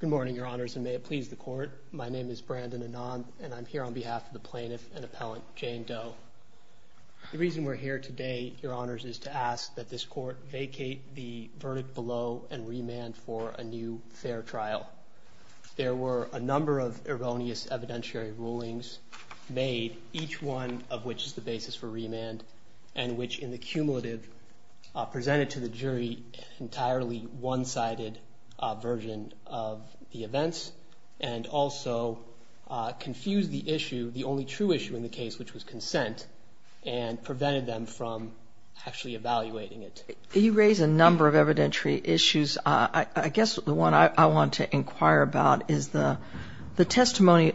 Good morning, your honors, and may it please the court. My name is Brandon Anand, and I'm here on behalf of the plaintiff and appellant Jane Doe. The reason we're here today, your honors, is to ask that this court vacate the verdict below and remand for a new fair trial. There were a number of erroneous evidentiary rulings made, each one of which is the basis for remand, and which in the cumulative presented to the jury an entirely one-sided version of the events, and also confused the issue, the only true issue in the case, which was consent, and prevented them from actually evaluating it. You raise a number of evidentiary issues. I guess the one I want to inquire about is the testimony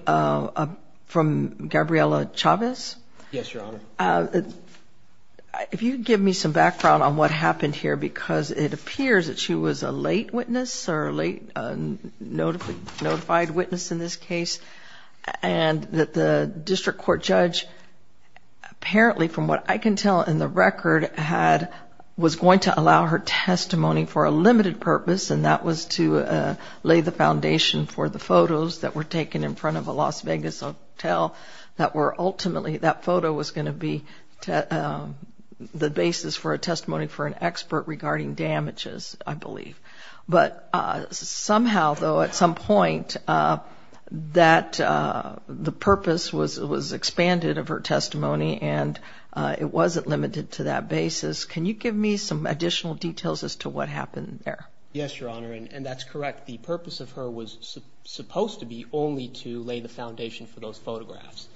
from Gabriela Chavez. Yes, your honor. If you give me some background on what happened here, because it appears that she was a late witness or a late notified witness in this case, and that the district court judge apparently, from what I can tell in the record, was going to allow her testimony for a limited purpose, and that was to lay the foundation for the photos that were taken in front of a Las Vegas hotel that were ultimately, that photo was going to be the basis for a testimony for an expert regarding damages, I believe. But somehow, though, at some point, that the purpose was expanded of her testimony, and it wasn't limited to that basis. Can you give me some additional details as to what happened there? Yes, your honor, and that's correct. The purpose of her was supposed to be only to lay the foundation for those photographs.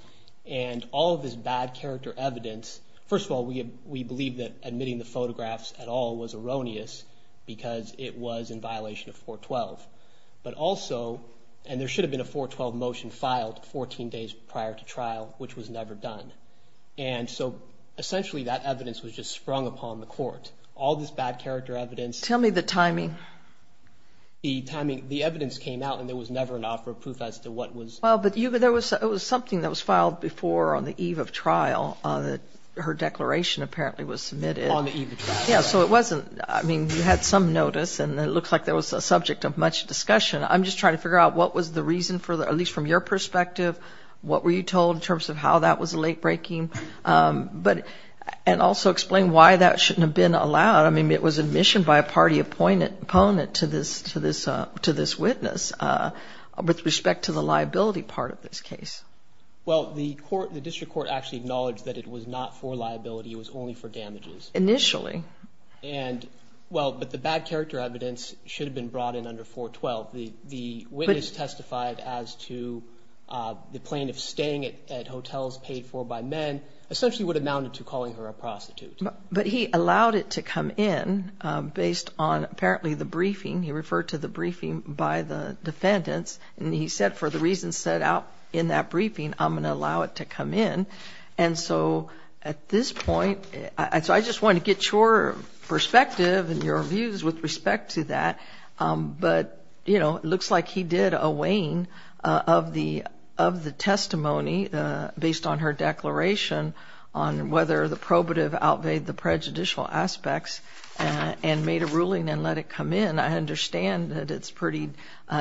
And all of this bad character evidence, first of all, we believe that admitting the photographs at all was erroneous, because it was in violation of 412. But also, and there should have been a 412 motion filed 14 days prior to trial, which was never done. And so essentially, that evidence was just sprung upon the court. All this bad character evidence. Tell me the timing. The timing, the evidence came out, and there was never an offer of proof as to what was. Well, but there was something that was filed before on the eve of trial. Her declaration apparently was submitted. On the eve of trial. Yeah, so it wasn't, I mean, you had some notice, and it looked like there was a subject of much discussion. I'm just trying to figure out what was the reason for, at least from your perspective, what were you told in terms of how that was late-breaking? And also explain why that shouldn't have been allowed. I mean, it was admission by a party opponent to this witness with respect to the liability part of this case. Well, the district court actually acknowledged that it was not for liability. It was only for damages. Initially. And, well, but the bad character evidence should have been brought in under 412. The witness testified as to the plaintiff staying at hotels paid for by men essentially would have amounted to calling her a prostitute. But he allowed it to come in based on apparently the briefing. He referred to the briefing by the defendants. And he said for the reasons set out in that briefing, I'm going to allow it to come in. And so at this point, so I just wanted to get your perspective and your views with respect to that. But, you know, it looks like he did a weighing of the testimony based on her declaration on whether the probative outweighed the prejudicial aspects and made a ruling and let it come in. I understand that it's pretty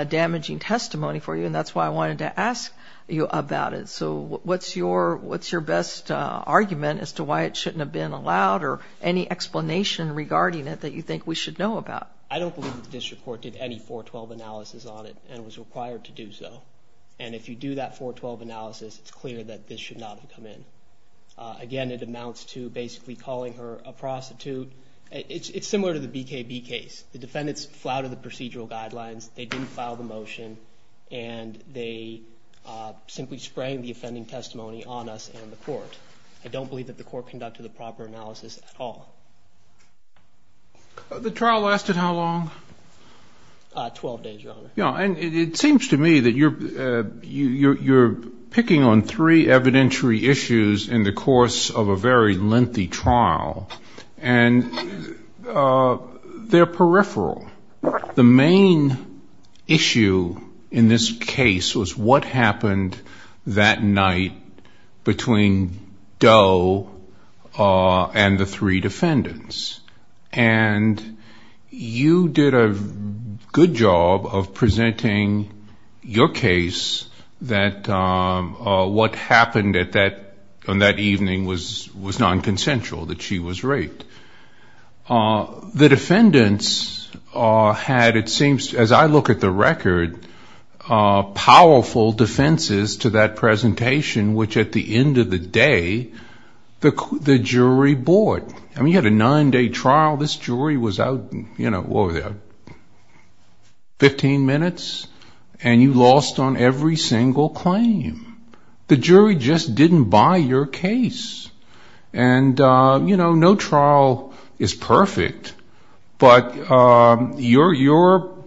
damaging testimony for you, and that's why I wanted to ask you about it. So what's your best argument as to why it shouldn't have been allowed or any explanation regarding it that you think we should know about? I don't believe the district court did any 412 analysis on it and was required to do so. And if you do that 412 analysis, it's clear that this should not have come in. Again, it amounts to basically calling her a prostitute. It's similar to the BKB case. The defendants flouted the procedural guidelines. They didn't file the motion. And they simply sprang the offending testimony on us and the court. I don't believe that the court conducted the proper analysis at all. The trial lasted how long? Twelve days, Your Honor. Yeah, and it seems to me that you're picking on three evidentiary issues in the course of a very lengthy trial, and they're peripheral. The main issue in this case was what happened that night between Doe and the three defendants. And you did a good job of presenting your case that what happened on that evening was nonconsensual, that she was raped. The defendants had, it seems, as I look at the record, powerful defenses to that presentation, which at the end of the day, the jury bought. I mean, you had a nine-day trial. This jury was out, you know, what was it, 15 minutes? And you lost on every single claim. The jury just didn't buy your case. And, you know, no trial is perfect, but your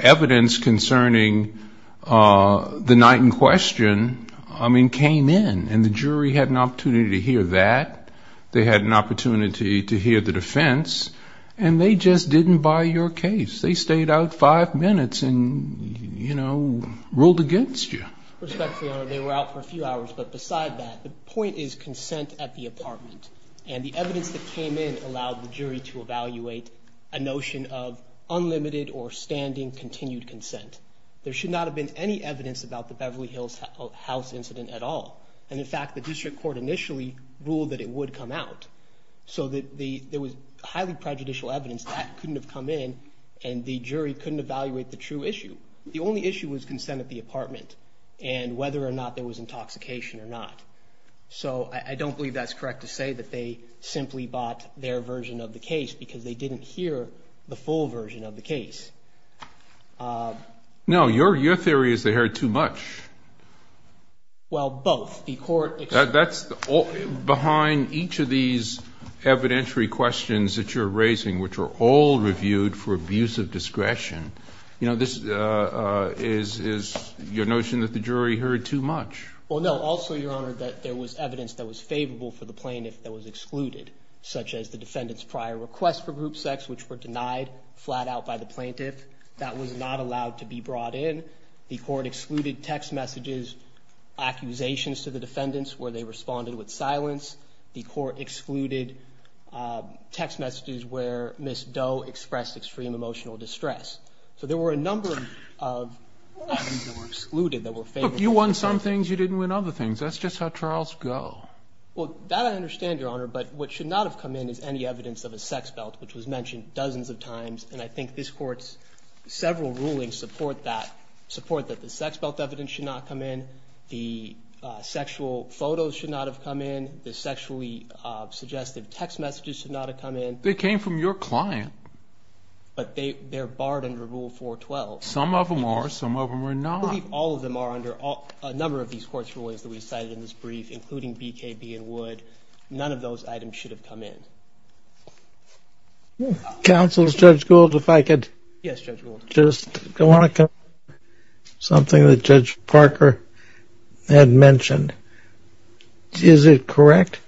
evidence concerning the night in question, I mean, came in, and the jury had an opportunity to hear that. They had an opportunity to hear the defense, and they just didn't buy your case. They stayed out five minutes and, you know, ruled against you. Respectfully, Your Honor, they were out for a few hours, but beside that, the point is consent at the apartment. And the evidence that came in allowed the jury to evaluate a notion of unlimited or standing continued consent. There should not have been any evidence about the Beverly Hills House incident at all. And, in fact, the district court initially ruled that it would come out. So there was highly prejudicial evidence that couldn't have come in, and the jury couldn't evaluate the true issue. The only issue was consent at the apartment and whether or not there was intoxication or not. So I don't believe that's correct to say that they simply bought their version of the case because they didn't hear the full version of the case. No, your theory is they heard too much. Well, both. That's behind each of these evidentiary questions that you're raising, which are all reviewed for abuse of discretion. You know, this is your notion that the jury heard too much. Well, no, also, your Honor, that there was evidence that was favorable for the plaintiff that was excluded, such as the defendant's prior request for group sex, which were denied flat out by the plaintiff. That was not allowed to be brought in. The court excluded text messages, accusations to the defendants where they responded with silence. The court excluded text messages where Ms. Doe expressed extreme emotional distress. So there were a number of things that were excluded that were favorable. Look, you won some things. You didn't win other things. That's just how trials go. Well, that I understand, your Honor. But what should not have come in is any evidence of a sex belt, which was mentioned dozens of times. And I think this Court's several rulings support that, support that the sex belt evidence should not come in. The sexual photos should not have come in. The sexually suggestive text messages should not have come in. They came from your client. But they're barred under Rule 412. Some of them are. Some of them are not. All of them are under a number of these Court's rulings that we cited in this brief, including BKB and Wood. None of those items should have come in. Counsel, Judge Gould, if I could. Yes, Judge Gould. Just want to confirm something that Judge Parker had mentioned. Is it correct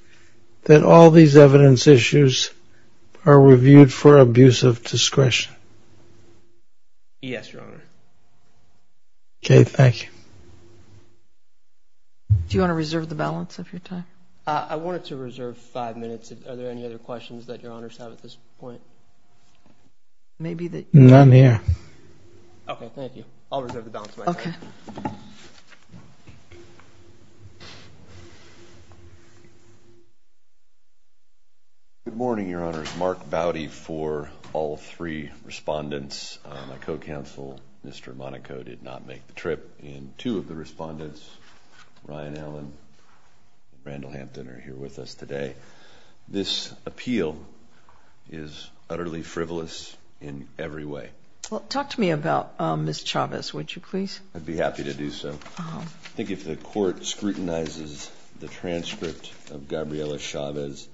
that all these evidence issues are reviewed for abuse of discretion? Yes, your Honor. Okay, thank you. Do you want to reserve the balance of your time? I wanted to reserve five minutes. Are there any other questions that your Honors have at this point? None here. Okay, thank you. I'll reserve the balance of my time. Okay. Good morning, your Honors. Mark Bowdy for all three respondents. My co-counsel, Mr. Monaco, did not make the trip. And two of the respondents, Ryan Allen and Randall Hampton, are here with us today. This appeal is utterly frivolous in every way. Talk to me about Ms. Chavez, would you please? I'd be happy to do so. I think if the Court scrutinizes the transcript of Gabriela Chavez,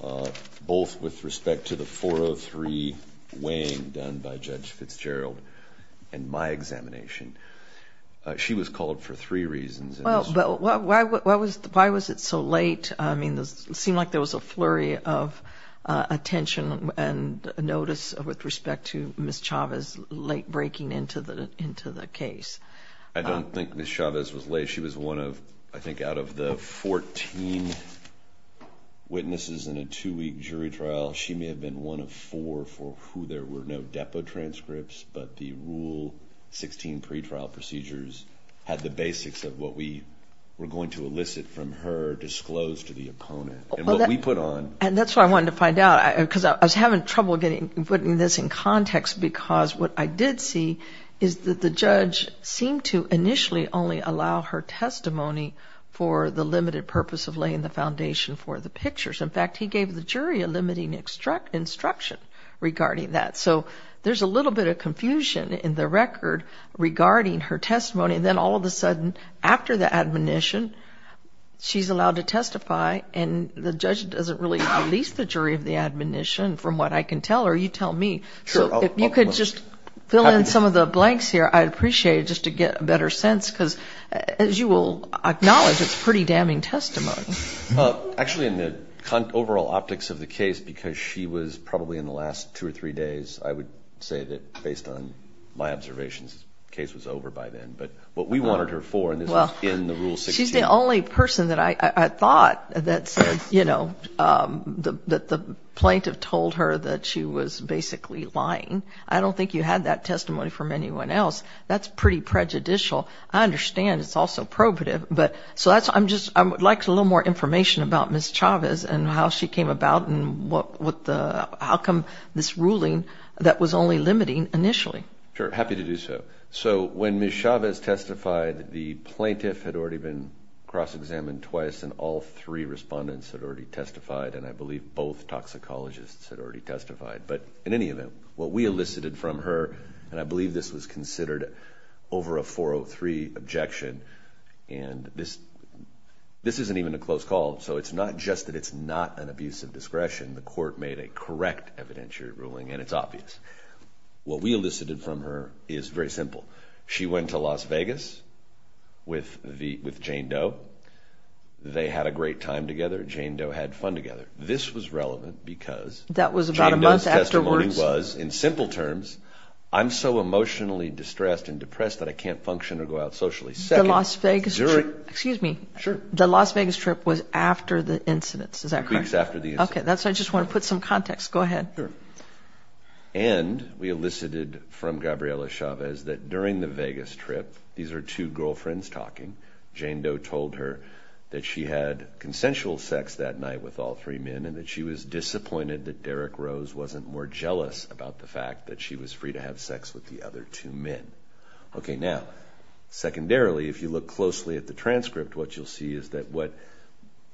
both with respect to the 403 weighing done by Judge Fitzgerald and my examination, she was called for three reasons. Why was it so late? It seemed like there was a flurry of attention and notice with respect to Ms. Chavez late breaking into the case. I don't think Ms. Chavez was late. She was one of, I think, out of the fourteen witnesses in a two-week jury trial, she may have been one of four for who there were no depo transcripts, but the Rule 16 pretrial procedures had the basics of what we were going to elicit from her, disclosed to the opponent, and what we put on. And that's what I wanted to find out, because I was having trouble putting this in context, because what I did see is that the judge seemed to initially only allow her testimony for the limited purpose of laying the foundation for the pictures. In fact, he gave the jury a limiting instruction regarding that. So there's a little bit of confusion in the record regarding her testimony, and then all of a sudden, after the admonition, she's allowed to testify, and the judge doesn't really release the jury of the admonition from what I can tell her, you tell me. So if you could just fill in some of the blanks here, I'd appreciate it, just to get a better sense, because as you will acknowledge, it's pretty damning testimony. Actually, in the overall optics of the case, because she was probably in the last two or three days, I would say that based on my observations, the case was over by then. But what we wanted her for, and this was in the Rule 16. She's the only person that I thought that said, you know, that the plaintiff told her that she was basically lying. I don't think you had that testimony from anyone else. That's pretty prejudicial. I understand it's also probative. I would like a little more information about Ms. Chavez and how she came about and how come this ruling that was only limiting initially. Sure, happy to do so. So when Ms. Chavez testified, the plaintiff had already been cross-examined twice, and all three respondents had already testified, and I believe both toxicologists had already testified. But in any event, what we elicited from her, and I believe this was considered over a 403 objection, and this isn't even a close call, so it's not just that it's not an abuse of discretion. The court made a correct evidentiary ruling, and it's obvious. What we elicited from her is very simple. She went to Las Vegas with Jane Doe. They had a great time together. Jane Doe had fun together. This was relevant because Jane Doe's testimony was, in simple terms, I'm so emotionally distressed and depressed that I can't function or go out socially. The Las Vegas trip was after the incidents, is that correct? Two weeks after the incidents. Okay, that's why I just want to put some context. Go ahead. And we elicited from Gabriela Chavez that during the Vegas trip, these are two girlfriends talking, Jane Doe told her that she had consensual sex that night with all three men and that she was disappointed that Derek Rose wasn't more jealous about the fact that she was free to have sex with the other two men. Okay, now, secondarily, if you look closely at the transcript, what you'll see is that what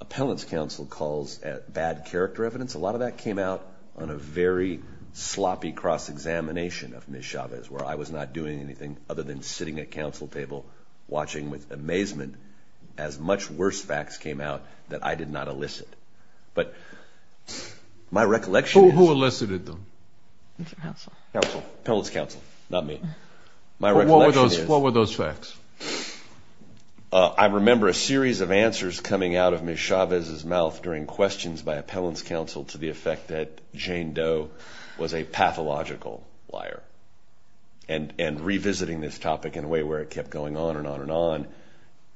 appellant's counsel calls bad character evidence, a lot of that came out on a very sloppy cross-examination of Ms. Chavez, where I was not doing anything other than sitting at counsel table watching with amazement as much worse facts came out that I did not elicit. But my recollection is. Who elicited them? Counsel. Counsel, appellant's counsel, not me. My recollection is. What were those facts? I remember a series of answers coming out of Ms. Chavez's mouth during questions by appellant's counsel to the effect that Jane Doe was a pathological liar and revisiting this topic in a way where it kept going on and on and on.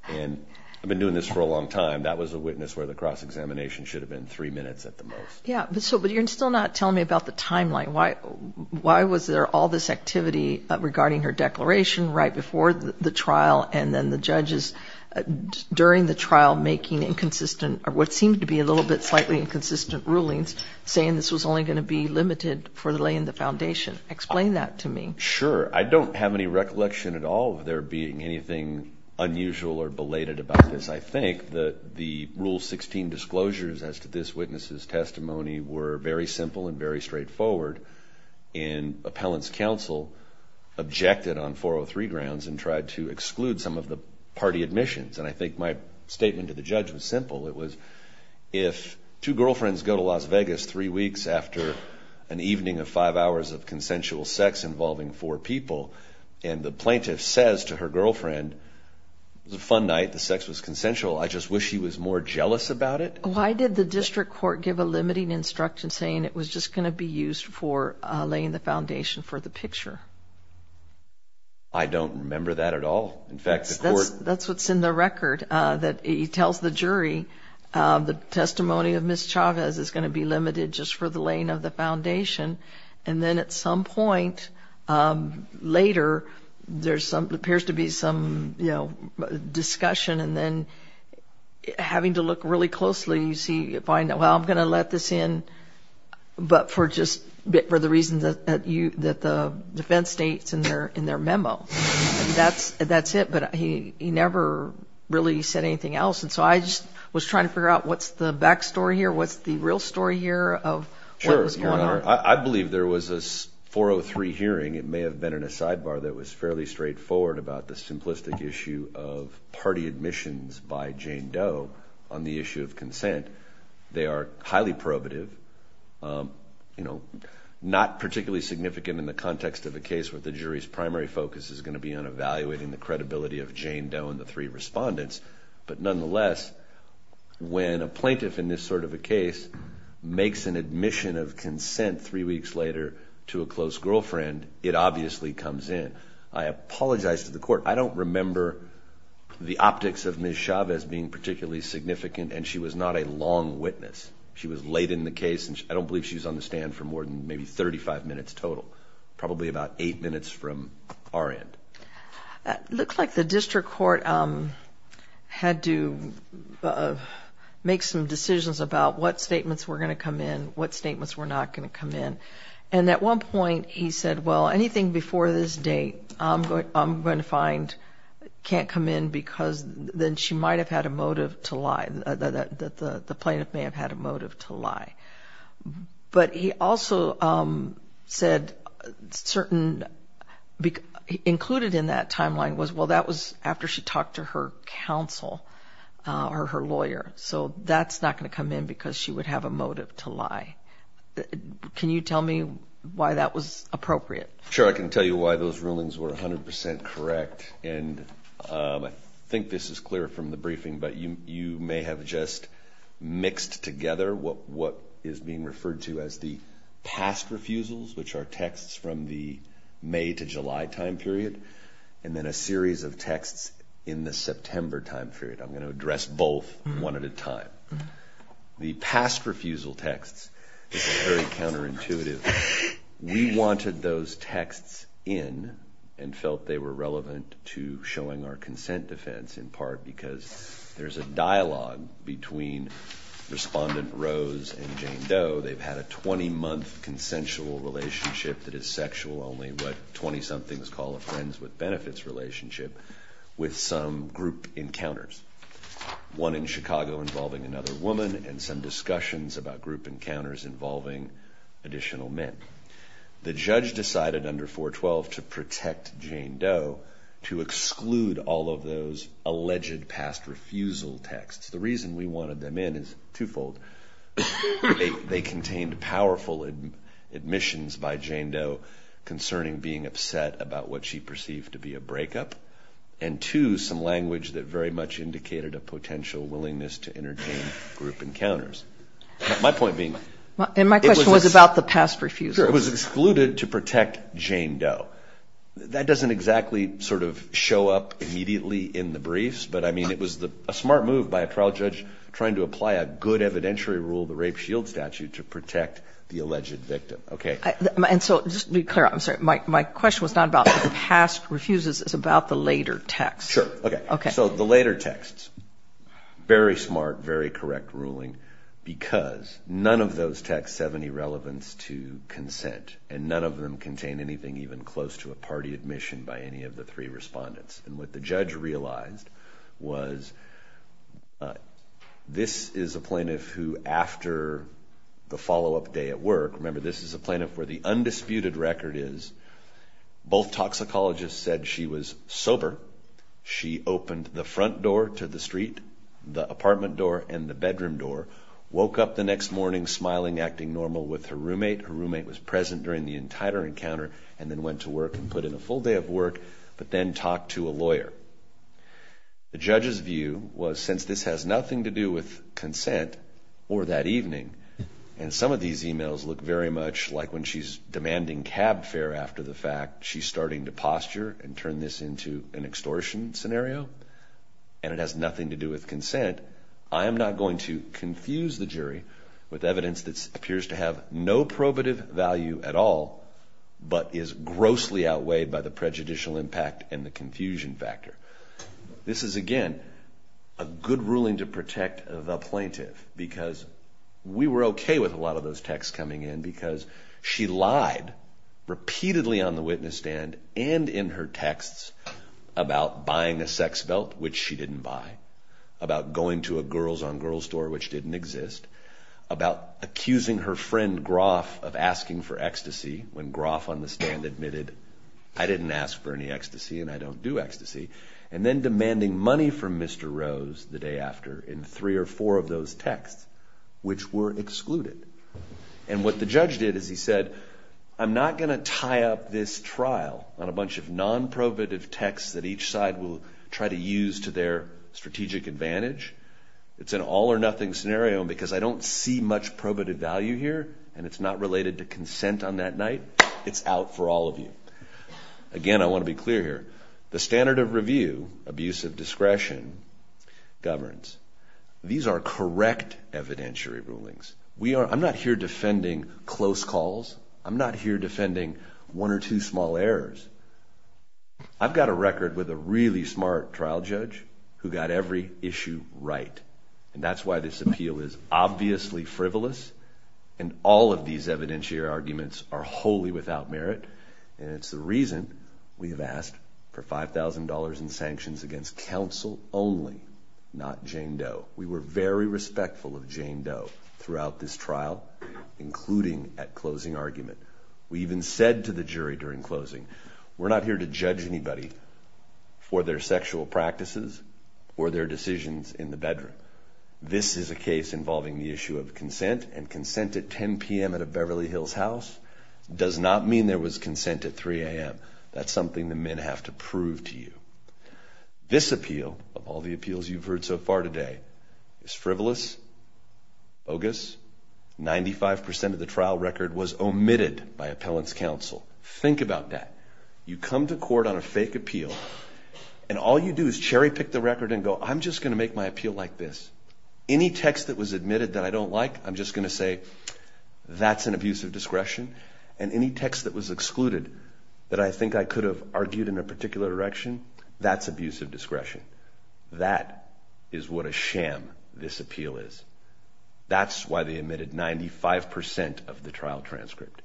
And I've been doing this for a long time. And that was a witness where the cross-examination should have been three minutes at the most. Yeah, but you're still not telling me about the timeline. Why was there all this activity regarding her declaration right before the trial and then the judges during the trial making inconsistent or what seemed to be a little bit slightly inconsistent rulings, saying this was only going to be limited for the lay in the foundation? Explain that to me. Sure. I don't have any recollection at all of there being anything unusual or belated about this. I think that the Rule 16 disclosures as to this witness's testimony were very simple and very straightforward. And appellant's counsel objected on 403 grounds and tried to exclude some of the party admissions. And I think my statement to the judge was simple. It was if two girlfriends go to Las Vegas three weeks after an evening of five hours of consensual sex involving four people and the plaintiff says to her girlfriend, it was a fun night. The sex was consensual. I just wish she was more jealous about it. Why did the district court give a limiting instruction saying it was just going to be used for laying the foundation for the picture? I don't remember that at all. In fact, the court. That's what's in the record. It tells the jury the testimony of Ms. Chavez is going to be limited just for the laying of the foundation. And then at some point later, there appears to be some discussion. And then having to look really closely, you see, well, I'm going to let this in, but for the reason that the defense states in their memo. That's it. But he never really said anything else. And so I just was trying to figure out what's the back story here, what's the real story here of what was going on. I believe there was a 403 hearing. It may have been in a sidebar that was fairly straightforward about the simplistic issue of party admissions by Jane Doe on the issue of consent. They are highly probative. Not particularly significant in the context of a case where the jury's primary focus is going to be on evaluating the credibility of Jane Doe and the three respondents. But nonetheless, when a plaintiff in this sort of a case makes an admission of consent three weeks later to a close girlfriend, it obviously comes in. I apologize to the court. I don't remember the optics of Ms. Chavez being particularly significant, and she was not a long witness. She was late in the case, and I don't believe she was on the stand for more than maybe 35 minutes total, probably about eight minutes from our end. It looks like the district court had to make some decisions about what statements were going to come in, what statements were not going to come in. And at one point he said, well, anything before this date I'm going to find can't come in because then she might have had a motive to lie, that the plaintiff may have had a motive to lie. But he also said certain included in that timeline was, well, that was after she talked to her counsel or her lawyer. So that's not going to come in because she would have a motive to lie. Can you tell me why that was appropriate? Sure. I can tell you why those rulings were 100 percent correct. And I think this is clear from the briefing, but you may have just mixed together what is being referred to as the past refusals, which are texts from the May to July time period, and then a series of texts in the September time period. I'm going to address both one at a time. The past refusal texts is very counterintuitive. We wanted those texts in and felt they were relevant to showing our consent defense in part because there's a dialogue between Respondent Rose and Jane Doe. They've had a 20-month consensual relationship that is sexual, only what 20-somethings call a friends with benefits relationship, with some group encounters, one in Chicago involving another woman and some discussions about group encounters involving additional men. The judge decided under 412 to protect Jane Doe to exclude all of those alleged past refusal texts. The reason we wanted them in is twofold. They contained powerful admissions by Jane Doe concerning being upset about what she perceived to be a breakup, and two, some language that very much indicated a potential willingness to entertain group encounters. My point being, it was excluded to protect Jane Doe. That doesn't exactly sort of show up immediately in the briefs, but I mean it was a smart move by a trial judge trying to apply a good evidentiary rule, the Rape Shield Statute, to protect the alleged victim. Just to be clear, my question was not about the past refuses, it's about the later texts. Sure. So the later texts, very smart, very correct ruling because none of those texts have any relevance to consent, and none of them contain anything even close to a party admission by any of the three Respondents. And what the judge realized was this is a plaintiff who, after the follow-up day at work, remember this is a plaintiff where the undisputed record is both toxicologists said she was sober. She opened the front door to the street, the apartment door, and the bedroom door, woke up the next morning smiling, acting normal with her roommate. Her roommate was present during the entire encounter and then went to work and put in a full day of work, but then talked to a lawyer. The judge's view was since this has nothing to do with consent or that evening, and some of these emails look very much like when she's demanding cab fare after the fact, she's starting to posture and turn this into an extortion scenario, and it has nothing to do with consent, I am not going to confuse the jury with evidence that appears to have no probative value at all, but is grossly outweighed by the prejudicial impact and the confusion factor. This is, again, a good ruling to protect the plaintiff because we were okay with a lot of those texts coming in because she lied repeatedly on the witness stand and in her texts about buying a sex belt, which she didn't buy, about going to a girls-on-girls store, which didn't exist, about accusing her friend Groff of asking for ecstasy when Groff on the stand admitted, I didn't ask for any ecstasy and I don't do ecstasy, and then demanding money from Mr. Rose the day after in three or four of those texts, which were excluded. And what the judge did is he said, I'm not going to tie up this trial on a bunch of non-probative texts that each side will try to use to their strategic advantage. It's an all or nothing scenario because I don't see much probative value here and it's not related to consent on that night. It's out for all of you. Again, I want to be clear here. The standard of review, abuse of discretion, governs. These are correct evidentiary rulings. I'm not here defending close calls. I'm not here defending one or two small errors. I've got a record with a really smart trial judge who got every issue right and that's why this appeal is obviously frivolous and all of these evidentiary arguments are wholly without merit and it's the reason we have asked for $5,000 in sanctions against counsel only, not Jane Doe. We were very respectful of Jane Doe throughout this trial, including at closing argument. We even said to the jury during closing, we're not here to judge anybody for their sexual practices or their decisions in the bedroom. This is a case involving the issue of consent and consent at 10 p.m. at a Beverly Hills house does not mean there was consent at 3 a.m. That's something the men have to prove to you. This appeal, of all the appeals you've heard so far today, is frivolous, bogus. 95% of the trial record was omitted by appellant's counsel. Think about that. You come to court on a fake appeal and all you do is cherry pick the record and go, I'm just going to make my appeal like this. Any text that was admitted that I don't like, I'm just going to say, that's an abuse of discretion and any text that was excluded that I think I could have argued in a particular direction, that's abuse of discretion. That is what a sham this appeal is. That's why they omitted 95% of the trial transcript.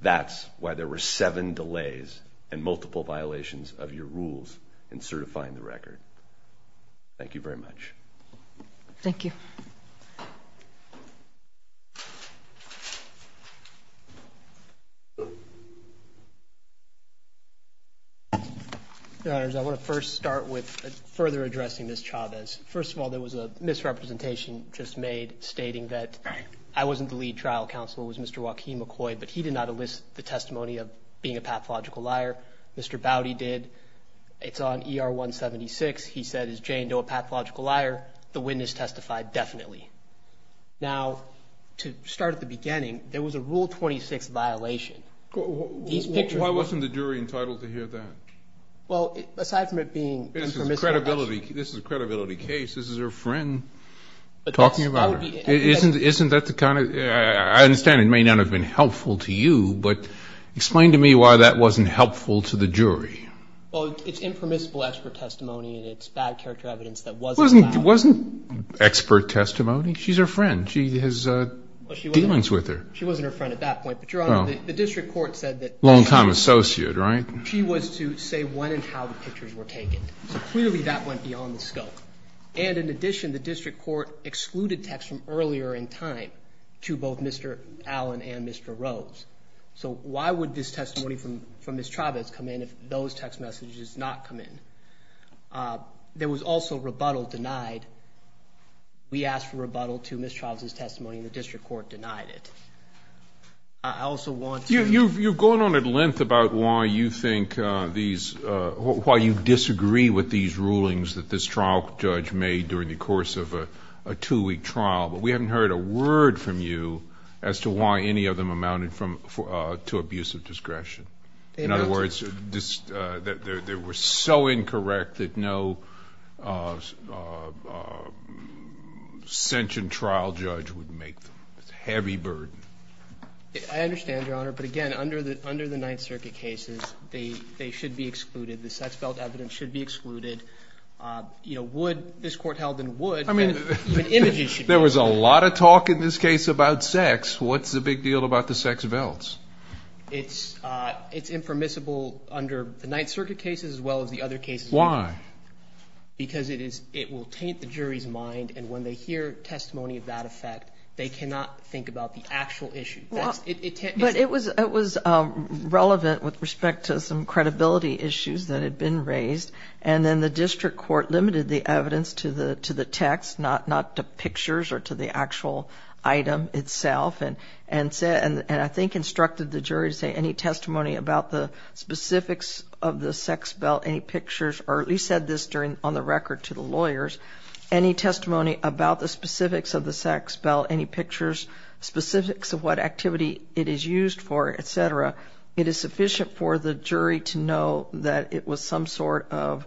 That's why there were seven delays and multiple violations of your rules in certifying the record. Thank you very much. Thank you. Your Honors, I want to first start with further addressing Ms. Chavez. First of all, there was a misrepresentation just made stating that I wasn't the lead trial counsel, it was Mr. Joaquin McCoy, but he did not elicit the testimony of being a pathological liar. Mr. Bouty did. It's on ER 176. He said, is Jane Doe a pathological liar? The witness testified definitely. Now, to start at the beginning, there was a Rule 26 violation. Why wasn't the jury entitled to hear that? Well, aside from it being impermissible. This is a credibility case. This is her friend talking about her. Isn't that the kind of ‑‑ I understand it may not have been helpful to you, but explain to me why that wasn't helpful to the jury. Well, it's impermissible expert testimony, and it's bad character evidence that wasn't found. It wasn't expert testimony. She's her friend. She has demons with her. She wasn't her friend at that point, but, Your Honor, the district court said that ‑‑ Long-time associate, right? She was to say when and how the pictures were taken. Clearly, that went beyond the scope. And, in addition, the district court excluded text from earlier in time to both Mr. Allen and Mr. Rose. So why would this testimony from Ms. Chavez come in if those text messages did not come in? There was also rebuttal denied. We asked for rebuttal to Ms. Chavez's testimony, and the district court denied it. I also want to ‑‑ You've gone on at length about why you think these ‑‑ why you disagree with these rulings that this trial judge made during the course of a two‑week trial, but we haven't heard a word from you as to why any of them amounted to abusive discretion. In other words, they were so incorrect that no sentient trial judge would make them. It's heavy burden. I understand, Your Honor, but, again, under the Ninth Circuit cases, they should be excluded. The sex belt evidence should be excluded. You know, would ‑‑ this court held in would. I mean, even images should be excluded. There was a lot of talk in this case about sex. What's the big deal about the sex belts? It's impermissible under the Ninth Circuit cases as well as the other cases. Why? Because it is ‑‑ it will taint the jury's mind, and when they hear testimony of that effect, they cannot think about the actual issue. But it was relevant with respect to some credibility issues that had been raised, and then the district court limited the evidence to the text, not to pictures or to the actual item itself, and I think instructed the jury to say any testimony about the specifics of the sex belt, any pictures, or at least said this on the record to the lawyers, any testimony about the specifics of the sex belt, any pictures, specifics of what activity it is used for, et cetera, it is sufficient for the jury to know that it was some sort of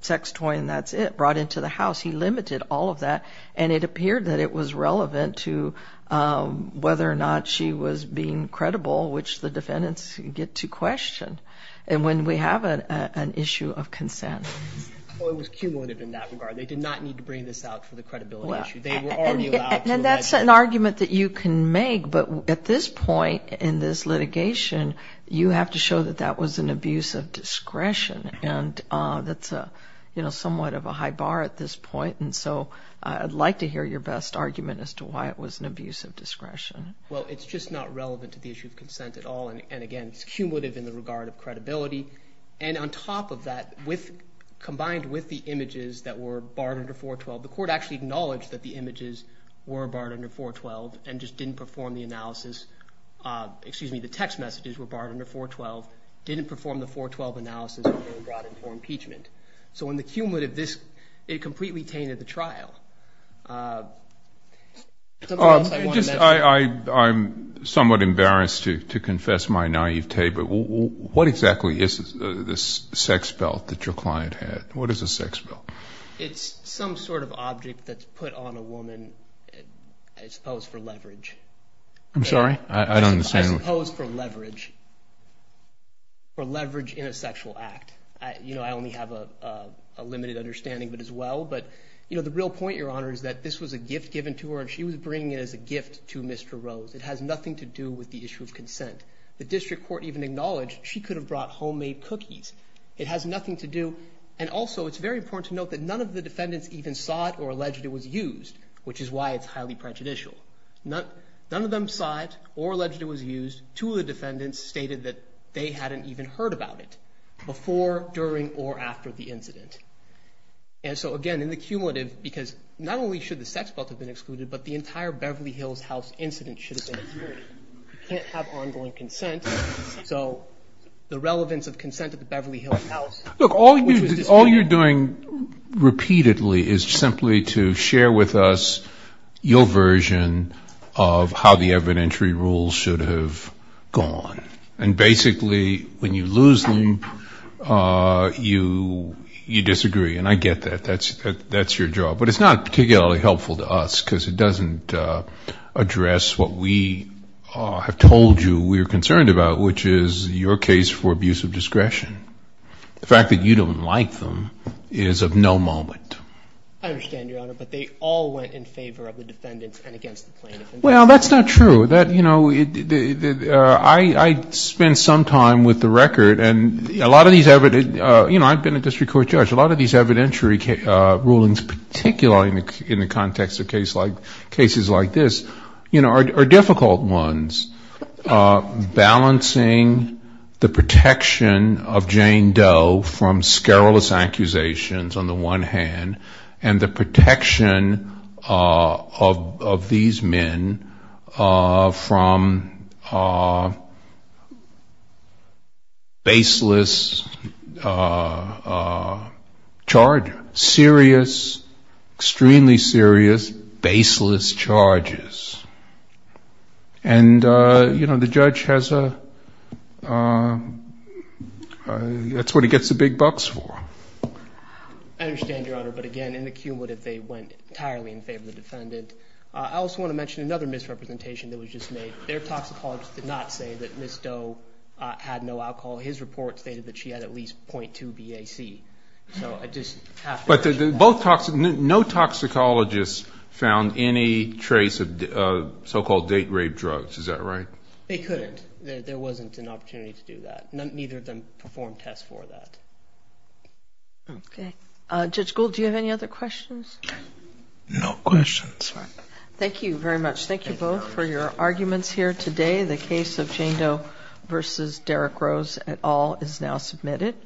sex toy and that's it, brought into the house. He limited all of that, and it appeared that it was relevant to whether or not she was being credible, which the defendants get to question, and when we have an issue of consent. Well, it was cumulative in that regard. They did not need to bring this out for the credibility issue. They were already allowed to ‑‑ And that's an argument that you can make, but at this point in this litigation, you have to show that that was an abuse of discretion, and that's somewhat of a high bar at this point, and so I'd like to hear your best argument as to why it was an abuse of discretion. Well, it's just not relevant to the issue of consent at all, and again, it's cumulative in the regard of credibility, and on top of that, combined with the images that were barred under 412, the court actually acknowledged that the images were barred under 412 and just didn't perform the analysis ‑‑ excuse me, the text messages were barred under 412, didn't perform the 412 analysis, and were brought in for impeachment. So in the cumulative, it completely tainted the trial. I'm somewhat embarrassed to confess my naivete, but what exactly is this sex belt that your client had? What is a sex belt? It's some sort of object that's put on a woman, I suppose, for leverage. I'm sorry? I don't understand. I suppose for leverage, for leverage in a sexual act. I only have a limited understanding of it as well, but the real point, Your Honor, is that this was a gift given to her, and she was bringing it as a gift to Mr. Rose. It has nothing to do with the issue of consent. The district court even acknowledged she could have brought homemade cookies. It has nothing to do, and also it's very important to note that none of the defendants even saw it or alleged it was used, which is why it's highly prejudicial. None of them saw it or alleged it was used. Two of the defendants stated that they hadn't even heard about it before, during, or after the incident. And so, again, in the cumulative, because not only should the sex belt have been excluded, but the entire Beverly Hills House incident should have been excluded. You can't have ongoing consent. So the relevance of consent at the Beverly Hills House, which was disputed. Look, all you're doing repeatedly is simply to share with us your version of how the evidentiary rules should have gone. And basically, when you lose them, you disagree. And I get that. That's your job. But it's not particularly helpful to us, because it doesn't address what we have told you we're concerned about, which is your case for abuse of discretion. The fact that you don't like them is of no moment. I understand, Your Honor, but they all went in favor of the defendants and against the plaintiffs. Well, that's not true. I spent some time with the record, and a lot of these evidence, you know, I've been a district court judge. A lot of these evidentiary rulings, particularly in the context of cases like this, you know, are difficult ones. Balancing the protection of Jane Doe from scurrilous accusations on the one hand and the protection of these men from baseless charges, serious, extremely serious, baseless charges. And, you know, the judge has a — that's what he gets the big bucks for. I understand, Your Honor, but, again, in the cumulative, they went entirely in favor of the defendant. I also want to mention another misrepresentation that was just made. Their toxicologist did not say that Ms. Doe had no alcohol. His report stated that she had at least 0.2 BAC. So I just have to — But no toxicologist found any trace of so-called date rape drugs. Is that right? They couldn't. There wasn't an opportunity to do that. Neither of them performed tests for that. Okay. Judge Gould, do you have any other questions? No questions. All right. Thank you very much. Thank you both for your arguments here today. The case of Jane Doe v. Derrick Rose et al. is now submitted.